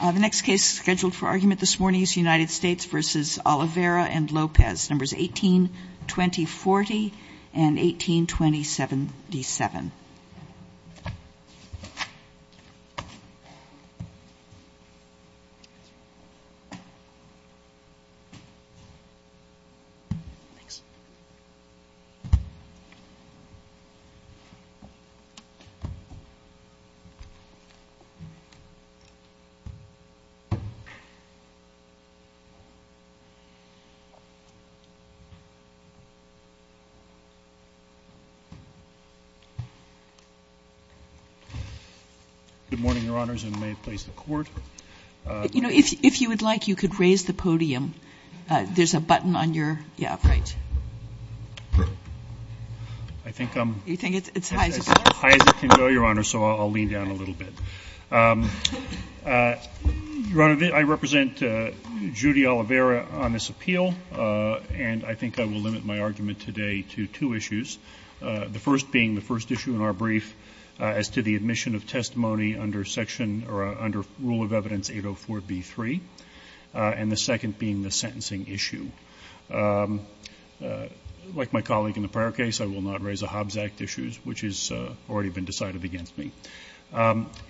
The next case scheduled for argument this morning is U.S. v. Olivera & Lopez, 18-2040, 18-2077. Good morning, Your Honors, and may it please the Court. You know, if you would like, you could raise the podium. There's a button on your – yeah, right. I think I'm – You think it's high enough? High as it can go, Your Honor, so I'll lean down a little bit. Your Honor, I represent Judy Olivera on this appeal, and I think I will limit my argument today to two issues, the first being the first issue in our brief as to the admission of testimony under Section – or under Rule of Evidence 804b3, and the second being the sentencing issue. Like my colleague in the prior case, I will not raise the Hobbs Act issues, which has already been decided against me.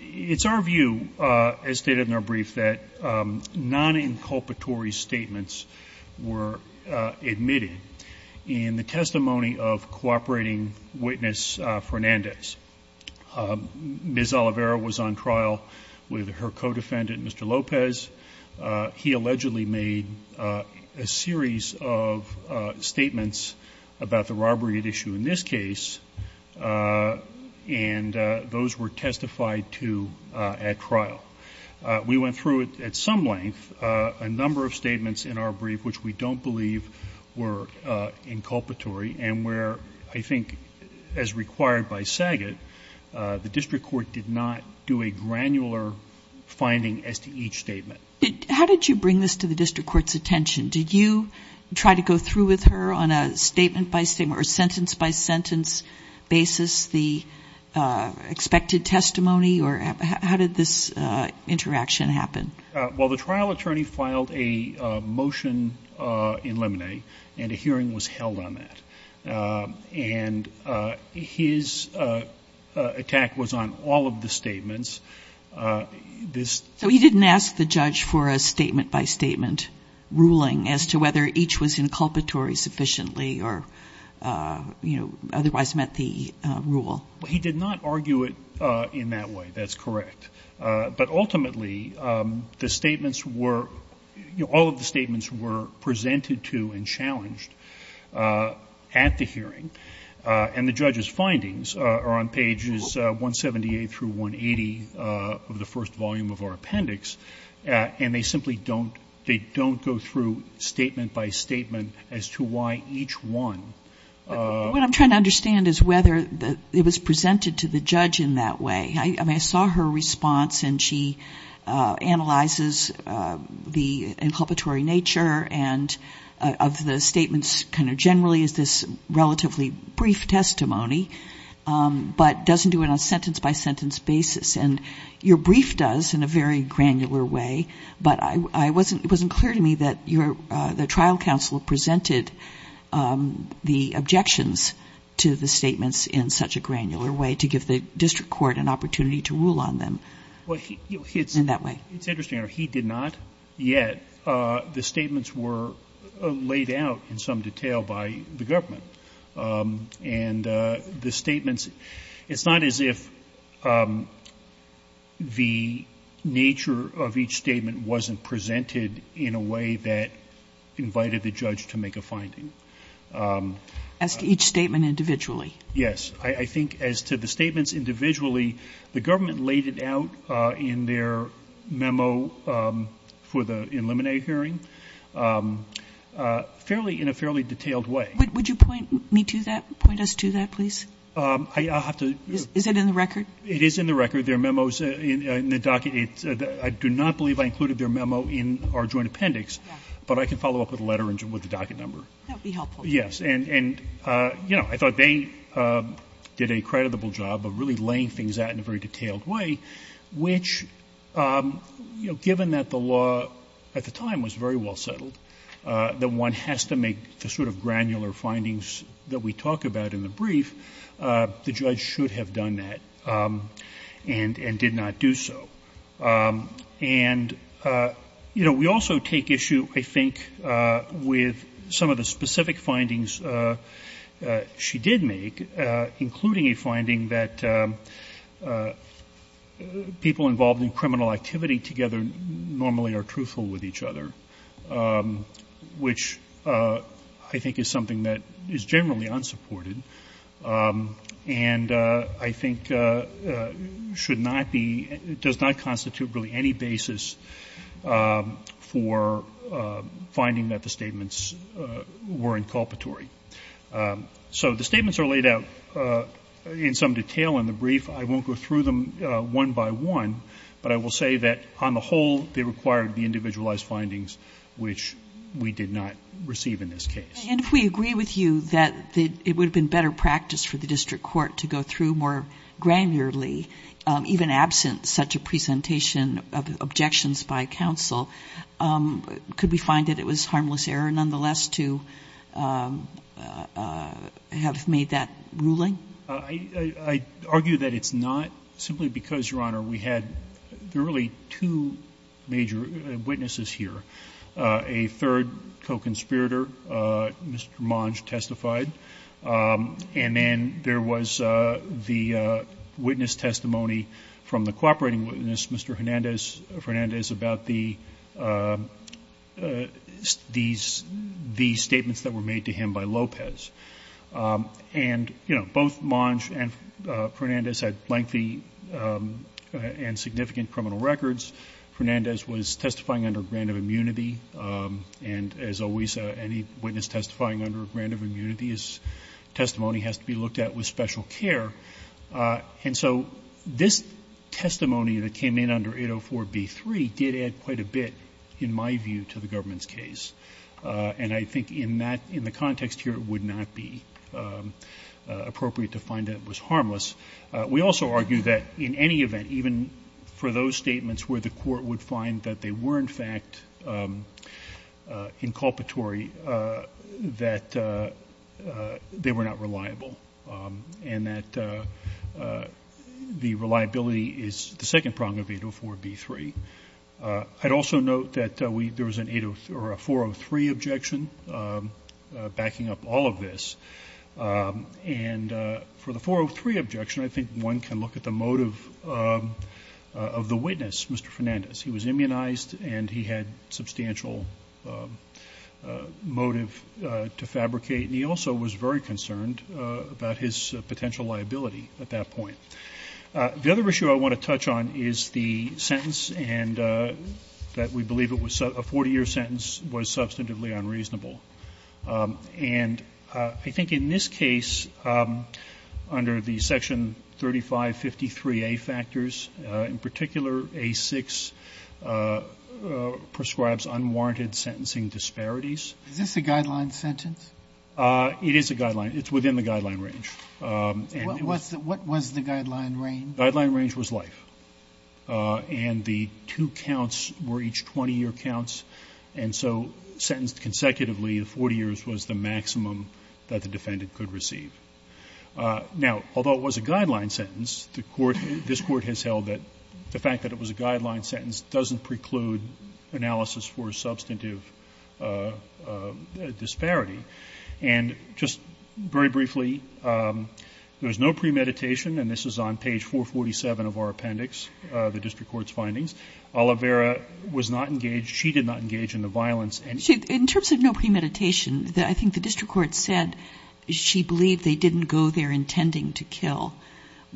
It's our view, as stated in our brief, that non-inculpatory statements were admitted in the testimony of cooperating witness Fernandez. Ms. Olivera was on trial with her co-defendant, Mr. Lopez. He allegedly made a series of statements about the robbery at issue in this case, and those were testified to at trial. We went through, at some length, a number of statements in our brief which we don't believe were inculpatory and where, I think, as required by SAGIT, the district court did not do a granular finding as to each statement. How did you bring this to the district court's attention? Did you try to go through with her on a statement-by-statement or sentence-by-sentence basis the expected testimony, or how did this interaction happen? Well, the trial attorney filed a motion in Lemonet, and a hearing was held on that. And his attack was on all of the statements. So he didn't ask the judge for a statement-by-statement ruling as to whether each was inculpatory sufficiently or, you know, otherwise met the rule? He did not argue it in that way. That's correct. But ultimately, the statements were, you know, all of the statements were presented to and challenged at the hearing. And the judge's findings are on pages 178 through 180 of the first volume of our appendix. And they simply don't go through statement-by-statement as to why each one. What I'm trying to understand is whether it was presented to the judge in that way. I mean, I saw her response, and she analyzes the inculpatory nature of the statements kind of generally as this relatively brief testimony, but doesn't do it on a sentence-by-sentence basis. And your brief does in a very granular way, but it wasn't clear to me that the trial counsel presented the objections to the statements in such a granular way to give the district court an opportunity to rule on them in that way. It's interesting, Your Honor, he did not yet. The statements were laid out in some detail by the government. And the statements, it's not as if the nature of each statement wasn't presented in a way that invited the judge to make a finding. As to each statement individually? Yes. I think as to the statements individually, the government laid it out in their memo for the in limine hearing fairly, in a fairly detailed way. Would you point me to that? Point us to that, please? I'll have to. Is it in the record? It is in the record. There are memos in the docket. I do not believe I included their memo in our joint appendix, but I can follow up with a letter with the docket number. That would be helpful. And, you know, I thought they did a creditable job of really laying things out in a very detailed way, which, you know, given that the law at the time was very well settled, that one has to make the sort of granular findings that we talk about in the brief, the judge should have done that and did not do so. And, you know, we also take issue, I think, with some of the specific findings she did make, including a finding that people involved in criminal activity together normally are truthful with each other, which I think is something that is generally unsupported, and I think should not be, does not come to the attention of the court to constitute really any basis for finding that the statements were inculpatory. So the statements are laid out in some detail in the brief. I won't go through them one by one, but I will say that on the whole they required the individualized findings, which we did not receive in this case. And if we agree with you that it would have been better practice for the district court to go through more granularly, even absent such a presentation of objections by counsel, could we find that it was harmless error, nonetheless, to have made that ruling? I argue that it's not simply because, Your Honor, we had really two major witnesses here. A third co-conspirator, Mr. Monge, testified. And then there was the witness testimony from the cooperating witness, Mr. Fernandez, about the statements that were made to him by Lopez. And, you know, both Monge and Fernandez had lengthy and significant criminal records. Fernandez was testifying under a grant of immunity, and as always, any witness testifying under a grant of immunity's testimony has to be looked at with special care. And so this testimony that came in under 804b3 did add quite a bit, in my view, to the government's case. And I think in that — in the context here, it would not be appropriate to find that it was harmless. We also argue that in any event, even for those statements where the court would find that they were, in fact, inculpatory, that they were not reliable, and that the reliability is the second prong of 804b3. I'd also note that we — there was an 803 — or a 403 objection backing up all of this. And for the 403 objection, I think one can look at the motive of the witness, Mr. Fernandez. He was immunized, and he had substantial motive to fabricate, and he also was very concerned about his potential liability at that point. The other issue I want to touch on is the sentence, and that we believe it was — a 40-year sentence was substantively unreasonable. And I think in this case, under the Section 3553A factors, in particular A6, the defendant prescribes unwarranted sentencing disparities. Sotomayor, is this a guideline sentence? It is a guideline. It's within the guideline range. And it was — What was the guideline range? The guideline range was life. And the two counts were each 20-year counts. And so sentenced consecutively, 40 years was the maximum that the defendant could receive. Now, although it was a guideline sentence, the Court — this Court has held that the fact that it was a guideline sentence doesn't preclude analysis for a substantive disparity. And just very briefly, there was no premeditation, and this is on page 447 of our appendix, the district court's findings. Oliveira was not engaged. She did not engage in the violence. In terms of no premeditation, I think the district court said she believed they didn't go there intending to kill.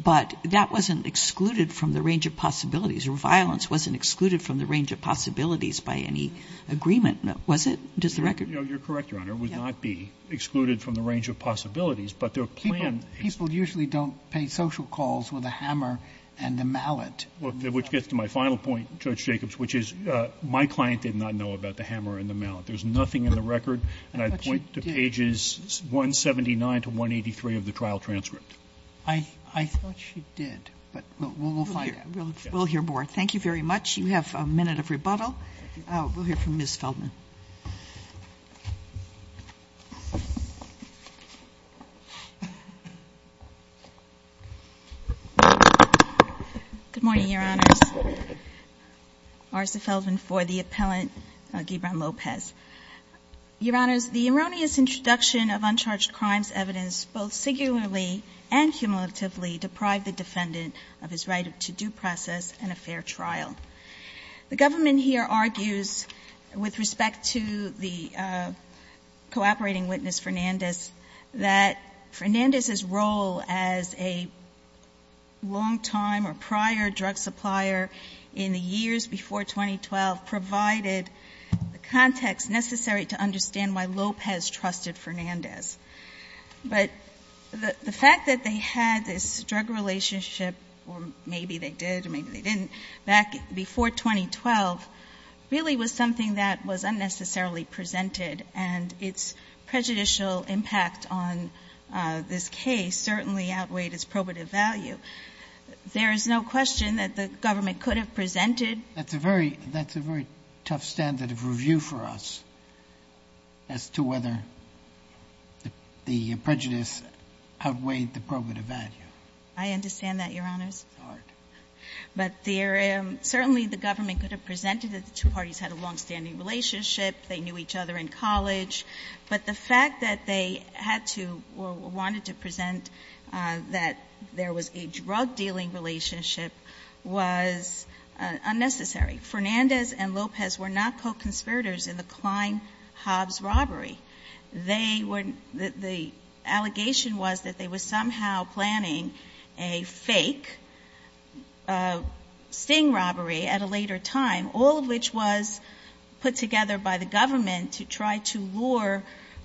But that wasn't excluded from the range of possibilities. Her violence wasn't excluded from the range of possibilities by any agreement, was it? Does the record — No, you're correct, Your Honor. It would not be excluded from the range of possibilities. But their plan — People usually don't pay social calls with a hammer and a mallet. Which gets to my final point, Judge Jacobs, which is my client did not know about the hammer and the mallet. There's nothing in the record. And I'd point to pages 179 to 183 of the trial transcript. I thought she did. But we'll find out. We'll hear more. Thank you very much. You have a minute of rebuttal. We'll hear from Ms. Feldman. Good morning, Your Honors. Marcia Feldman for the appellant, Gibran Lopez. Your Honors, the erroneous introduction of uncharged crimes evidence both singularly and cumulatively deprived the defendant of his right to due process and a fair trial. The government here argues with respect to the cooperating witness, Fernandez, that Fernandez's role as a longtime or prior drug supplier in the years before 2012 provided the context necessary to understand why Lopez trusted Fernandez. But the fact that they had this drug relationship, or maybe they did or maybe they didn't, back before 2012 really was something that was unnecessarily presented and its prejudicial impact on this case certainly outweighed its probative value. There is no question that the government could have presented. That's a very tough standard of review for us as to whether the prejudice outweighed the probative value. I understand that, Your Honors. It's hard. But certainly the government could have presented that the two parties had a longstanding relationship. They knew each other in college. But the fact that they had to or wanted to present that there was a drug-dealing relationship was unnecessary. Fernandez and Lopez were not co-conspirators in the Klein-Hobbs robbery. They were the allegation was that they were somehow planning a fake sting robbery at a later time, all of which was put together by the government to try to lure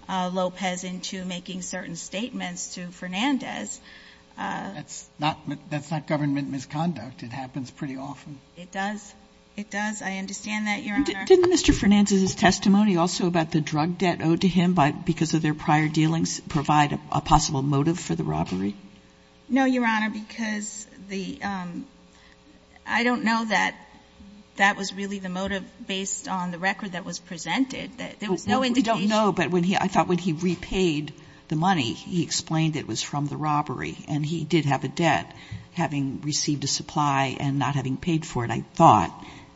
Lopez into making certain statements to Fernandez. That's not government misconduct. It happens pretty often. It does. It does. I understand that, Your Honor. Didn't Mr. Fernandez's testimony also about the drug debt owed to him because of their prior dealings provide a possible motive for the robbery? No, Your Honor, because the ‑‑ I don't know that that was really the motive based on the record that was presented. There was no indication. Well, we don't know. But I thought when he repaid the money, he explained it was from the robbery and he did have a debt, having received a supply and not having paid for it, I thought.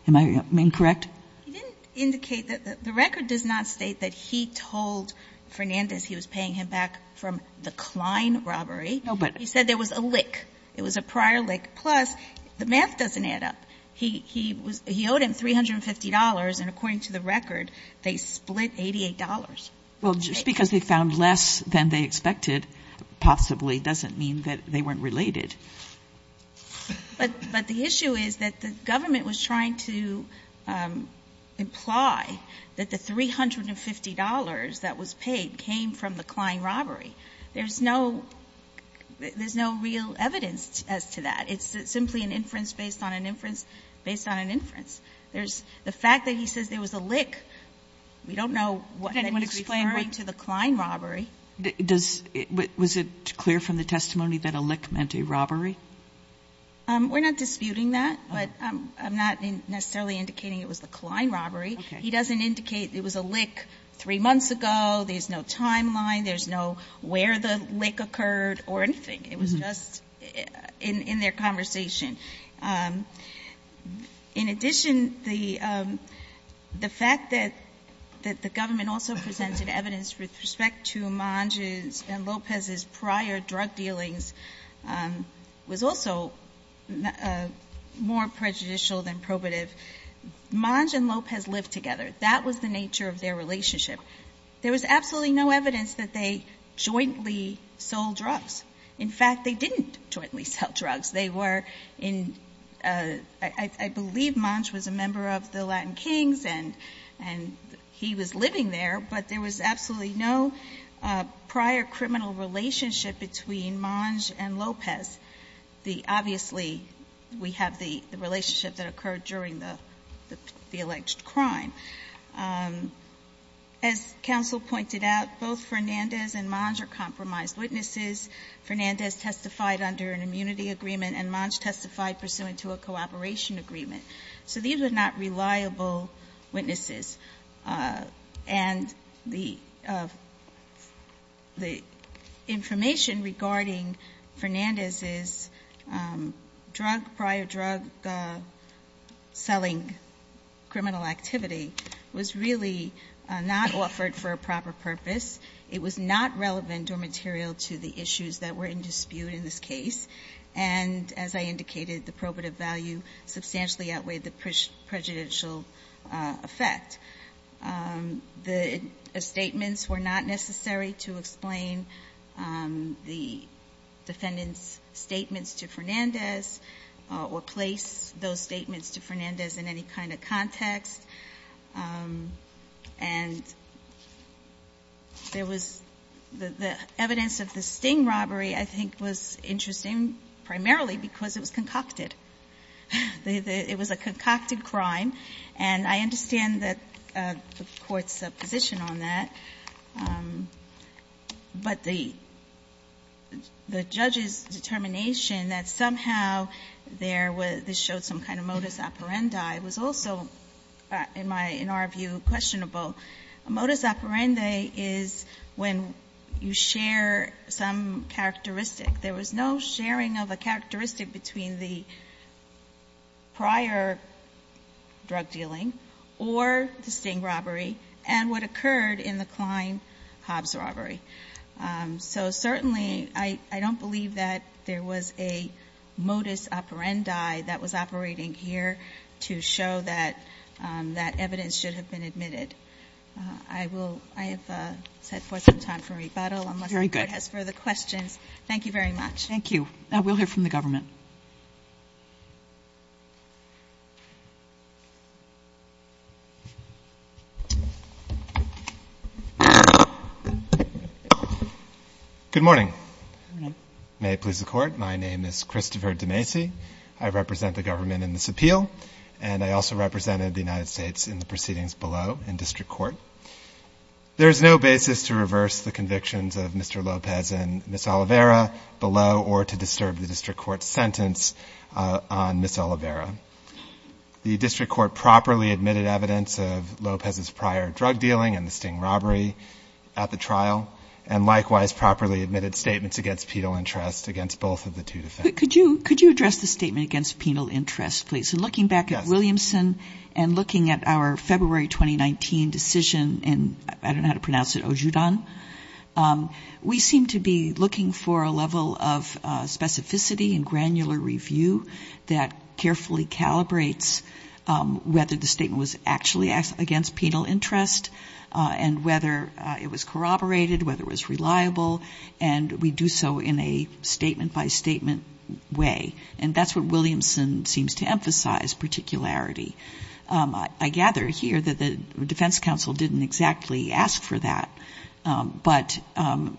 Am I incorrect? He didn't indicate that. The record does not state that he told Fernandez he was paying him back from the Klein robbery. No, but ‑‑ He said there was a lick. It was a prior lick. Plus, the math doesn't add up. He owed him $350, and according to the record, they split $88. Well, just because they found less than they expected possibly doesn't mean that they weren't related. But the issue is that the government was trying to imply that the $350 that was paid came from the Klein robbery. There's no real evidence as to that. It's simply an inference based on an inference based on an inference. The fact that he says there was a lick, we don't know what he's referring to the Klein robbery. Was it clear from the testimony that a lick meant a robbery? We're not disputing that. But I'm not necessarily indicating it was the Klein robbery. He doesn't indicate it was a lick three months ago. There's no timeline. There's no where the lick occurred or anything. It was just in their conversation. In addition, the fact that the government also presented evidence with respect to Manj's and Lopez's prior drug dealings was also more prejudicial than probative. Manj and Lopez lived together. That was the nature of their relationship. There was absolutely no evidence that they jointly sold drugs. In fact, they didn't jointly sell drugs. They were in – I believe Manj was a member of the Latin Kings and he was living there, but there was absolutely no prior criminal relationship between Manj and Lopez. Obviously, we have the relationship that occurred during the alleged crime. As counsel pointed out, both Fernandez and Manj are compromised witnesses. Fernandez testified under an immunity agreement and Manj testified pursuant to a cooperation agreement. So these were not reliable witnesses. And the information regarding Fernandez's drug – prior drug selling criminal activity was really not offered for a proper purpose. It was not relevant or material to the issues that were in dispute in this case. And as I indicated, the probative value substantially outweighed the prejudicial effect. The statements were not necessary to explain the defendant's statements to Fernandez or place those statements to Fernandez in any kind of context. And there was – the evidence of the sting robbery, I think, was interesting primarily because it was concocted. It was a concocted crime, and I understand that the Court's position on that. But the judge's determination that somehow there was – this showed some kind of modus operandi was also, in my – in our view, questionable. A modus operandi is when you share some characteristic. There was no sharing of a characteristic between the prior drug dealing or the sting robbery and what occurred in the Klein-Hobbs robbery. So certainly I don't believe that there was a modus operandi that was operating here to show that that evidence should have been admitted. I will – I have set forth some time for rebuttal unless the Court has further questions. Thank you very much. Thank you. We'll hear from the government. Good morning. Good morning. May it please the Court. My name is Christopher DeMacy. I represent the government in this appeal, and I also represented the United States in the proceedings below in district court. There is no basis to reverse the convictions of Mr. Lopez and Ms. Oliveira below or to disturb the district court's sentence on Ms. Oliveira. The district court properly admitted evidence of Lopez's prior drug dealing and the trial, and likewise properly admitted statements against penal interest against both of the two defendants. Could you address the statement against penal interest, please? Yes. And looking back at Williamson and looking at our February 2019 decision in – I don't know how to pronounce it – Ojudan, we seem to be looking for a level of specificity and granular review that carefully calibrates whether the statement was actually against penal interest and whether it was corroborated, whether it was reliable, and we do so in a statement-by-statement way. And that's what Williamson seems to emphasize, particularity. I gather here that the defense counsel didn't exactly ask for that. But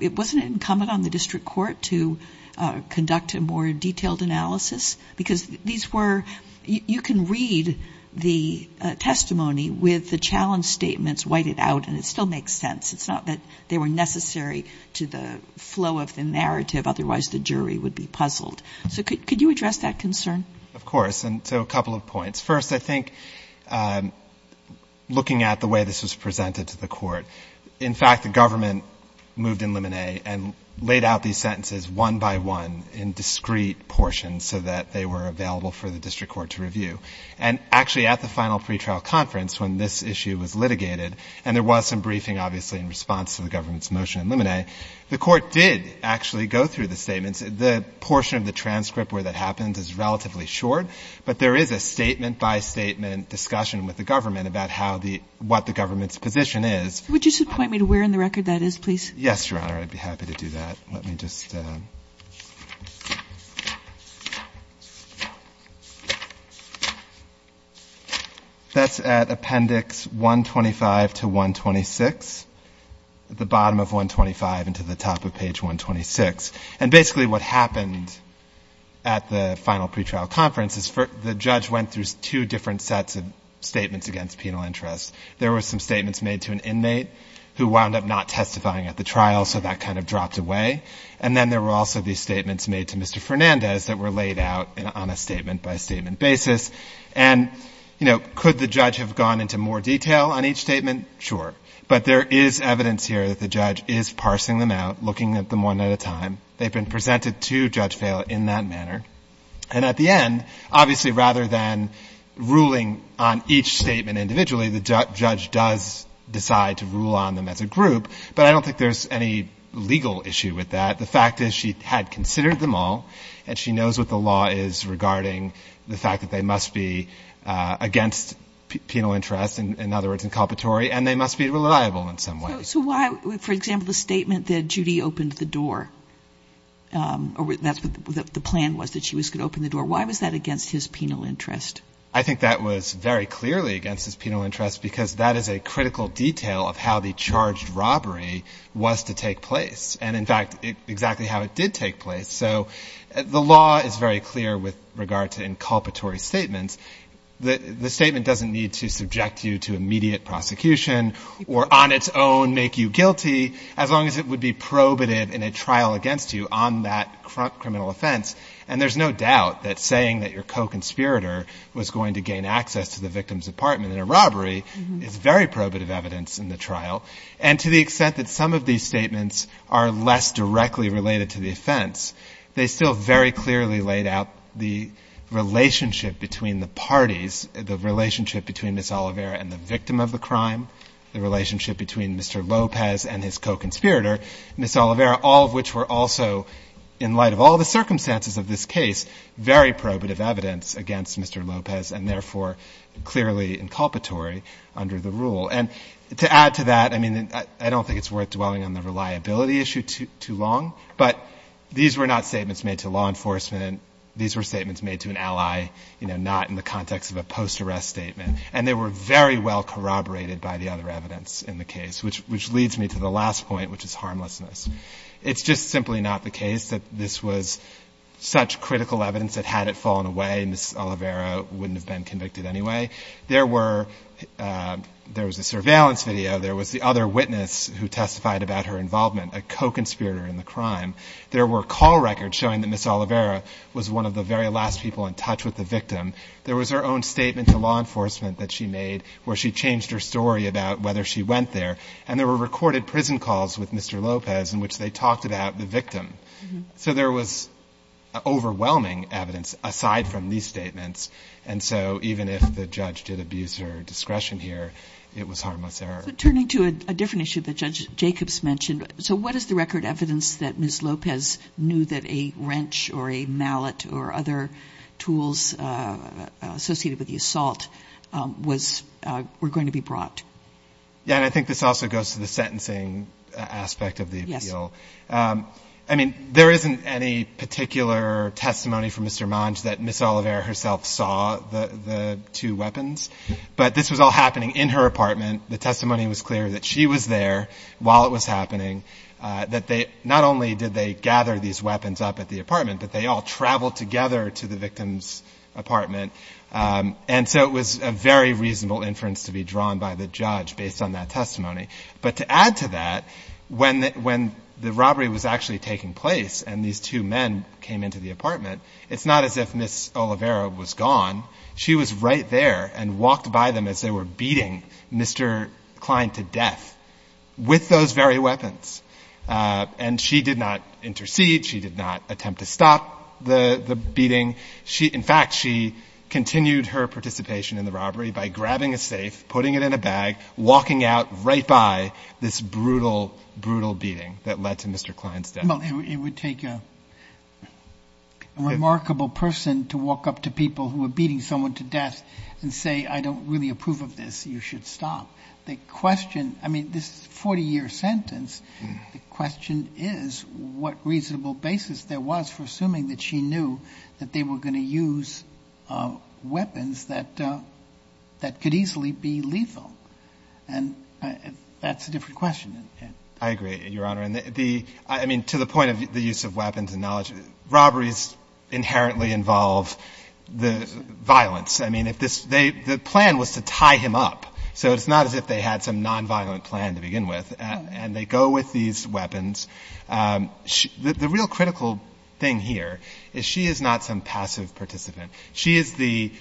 it wasn't incumbent on the district court to conduct a more detailed analysis because these were – you can read the testimony with the challenge statements whited out, and it still makes sense. It's not that they were necessary to the flow of the narrative. Otherwise, the jury would be puzzled. So could you address that concern? Of course. And so a couple of points. First, I think looking at the way this was presented to the court, in fact, the government moved in limine and laid out these sentences one by one in discrete portions so that they were available for the district court to review. And actually, at the final pretrial conference, when this issue was litigated and there was some briefing, obviously, in response to the government's motion in limine, the court did actually go through the statements. The portion of the transcript where that happens is relatively short, but there is a statement-by-statement discussion with the government about how the – what the government's position is. Would you point me to where in the record that is, please? Yes, Your Honor. I'd be happy to do that. Let me just – that's at appendix 125 to 126, at the bottom of 125 and to the top of page 126. And basically what happened at the final pretrial conference is the judge went through two different sets of statements against penal interest. There were some statements made to an inmate who wound up not testifying at the hearing, and then there were also these statements made to Mr. Fernandez that were laid out on a statement-by-statement basis. And, you know, could the judge have gone into more detail on each statement? Sure. But there is evidence here that the judge is parsing them out, looking at them one at a time. They've been presented to Judge Vail in that manner. And at the end, obviously, rather than ruling on each statement individually, the judge does decide to rule on them as a group, but I don't think there's any legal issue with that. The fact is she had considered them all, and she knows what the law is regarding the fact that they must be against penal interest, in other words, inculpatory, and they must be reliable in some way. So why, for example, the statement that Judy opened the door, or that's what the plan was, that she was going to open the door, why was that against his penal interest? I think that was very clearly against his penal interest because that is a critical detail of how the charged robbery was to take place, and in fact, exactly how it did take place. So the law is very clear with regard to inculpatory statements. The statement doesn't need to subject you to immediate prosecution or on its own make you guilty, as long as it would be probative in a trial against you on that criminal offense. And there's no doubt that saying that your co-conspirator was going to gain access to the victim's apartment in a robbery is very probative evidence in the trial. And to the extent that some of these statements are less directly related to the offense, they still very clearly laid out the relationship between the parties, the relationship between Ms. Oliveira and the victim of the crime, the relationship between Mr. Lopez and his co-conspirator, Ms. Oliveira, all of which were also, in light of all the circumstances of this case, very probative evidence against Mr. Lopez, and therefore clearly inculpatory under the rule. And to add to that, I mean, I don't think it's worth dwelling on the reliability issue too long, but these were not statements made to law enforcement. These were statements made to an ally, you know, not in the context of a post-arrest statement. And they were very well corroborated by the other evidence in the case, which leads me to the last point, which is harmlessness. It's just simply not the case that this was such critical evidence that had it fallen away, Ms. Oliveira wouldn't have been convicted anyway. There was a surveillance video. There was the other witness who testified about her involvement, a co-conspirator in the crime. There were call records showing that Ms. Oliveira was one of the very last people in touch with the victim. There was her own statement to law enforcement that she made where she changed her story about whether she went there. And there were recorded prison calls with Mr. Lopez in which they talked about the victim. So there was overwhelming evidence aside from these statements. And so even if the judge did abuse her discretion here, it was harmless error. But turning to a different issue that Judge Jacobs mentioned, so what is the record evidence that Ms. Lopez knew that a wrench or a mallet or other tools associated with the assault was going to be brought? Yeah, and I think this also goes to the sentencing aspect of the appeal. Yes. I mean, there isn't any particular testimony from Mr. Monge that Ms. Oliveira herself saw the two weapons. But this was all happening in her apartment. The testimony was clear that she was there while it was happening, that not only did they gather these weapons up at the apartment, but they all traveled together to the victim's apartment. And so it was a very reasonable inference to be drawn by the judge based on that testimony. But to add to that, when the robbery was actually taking place and these two men came into the apartment, it's not as if Ms. Oliveira was gone. She was right there and walked by them as they were beating Mr. Klein to death with those very weapons. And she did not intercede. She did not attempt to stop the beating. In fact, she continued her participation in the robbery by grabbing a safe, putting it in a bag, walking out right by this brutal, brutal beating that led to Mr. Klein's death. Well, it would take a remarkable person to walk up to people who were beating someone to death and say, I don't really approve of this. You should stop. The question, I mean, this is a 40-year sentence. The question is what reasonable basis there was for assuming that she knew that they were going to use weapons that could easily be lethal. And that's a different question. I agree, Your Honor. I mean, to the point of the use of weapons and knowledge, robberies inherently involve the violence. I mean, the plan was to tie him up, so it's not as if they had some nonviolent plan to begin with. And they go with these weapons. The real critical thing here is she is not some passive participant. She is the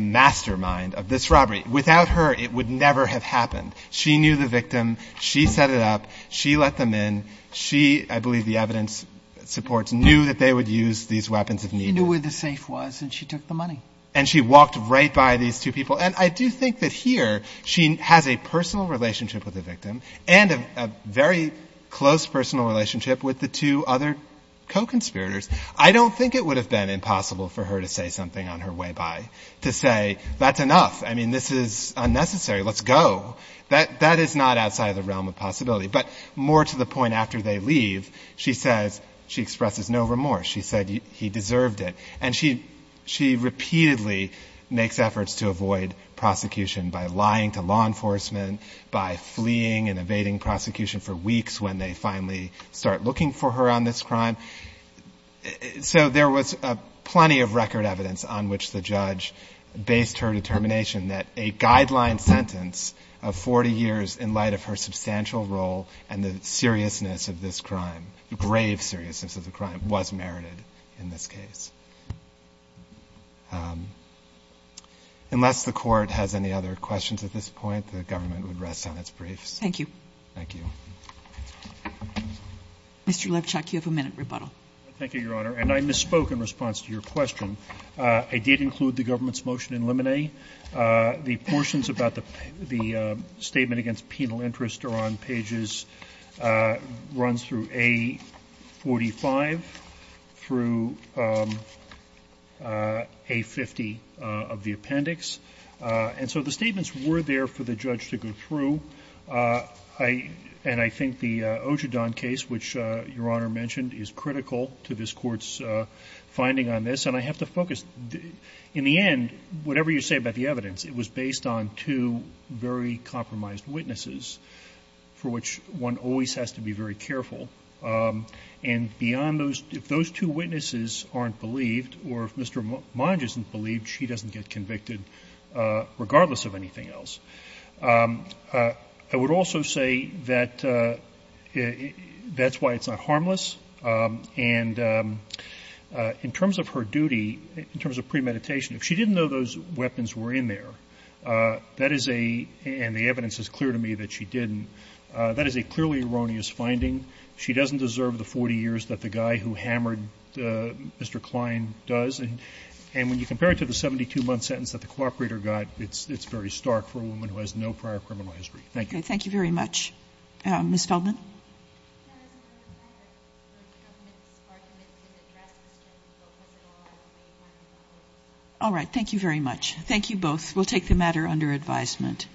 mastermind of this robbery. Without her, it would never have happened. She knew the victim. She set it up. She let them in. She, I believe the evidence supports, knew that they would use these weapons if needed. She knew where the safe was, and she took the money. And she walked right by these two people. And I do think that here she has a personal relationship with the victim and a very close personal relationship with the two other co-conspirators. I don't think it would have been impossible for her to say something on her way by, to say, that's enough. I mean, this is unnecessary. Let's go. That is not outside the realm of possibility. But more to the point, after they leave, she says, she expresses no remorse. She said he deserved it. And she repeatedly makes efforts to avoid prosecution by lying to law enforcement. And she has been denied prosecution for weeks when they finally start looking for her on this crime. So there was plenty of record evidence on which the judge based her determination that a guideline sentence of 40 years in light of her substantial role and the seriousness of this crime, the grave seriousness of the crime, was merited in this case. Unless the court has any other questions at this point, the government would rest on its briefs. Thank you. Thank you. Mr. Levchuk, you have a minute rebuttal. Thank you, Your Honor. And I misspoke in response to your question. I did include the government's motion in Lemonet. The portions about the statement against penal interest are on pages, runs through A45 through A50 of the appendix. And so the statements were there for the judge to go through. And I think the Ojedon case, which Your Honor mentioned, is critical to this Court's finding on this. And I have to focus. In the end, whatever you say about the evidence, it was based on two very compromised witnesses, for which one always has to be very careful. And beyond those, if those two witnesses aren't believed, or if Mr. Monge isn't believed, she doesn't get convicted, regardless of anything else. I would also say that that's why it's not harmless. And in terms of her duty, in terms of premeditation, if she didn't know those weapons were in there, that is a — and the evidence is clear to me that she didn't — that is a clearly erroneous finding. She doesn't deserve the 40 years that the guy who hammered Mr. Kline does. And when you compare it to the 72-month sentence that the cooperator got, it's very stark for a woman who has no prior criminal history. Thank you. Kagan. Ms. Feldman. Ms. Feldman. Ms. Feldman. All right. Thank you very much. Thank you both. We'll take the matter under advisement.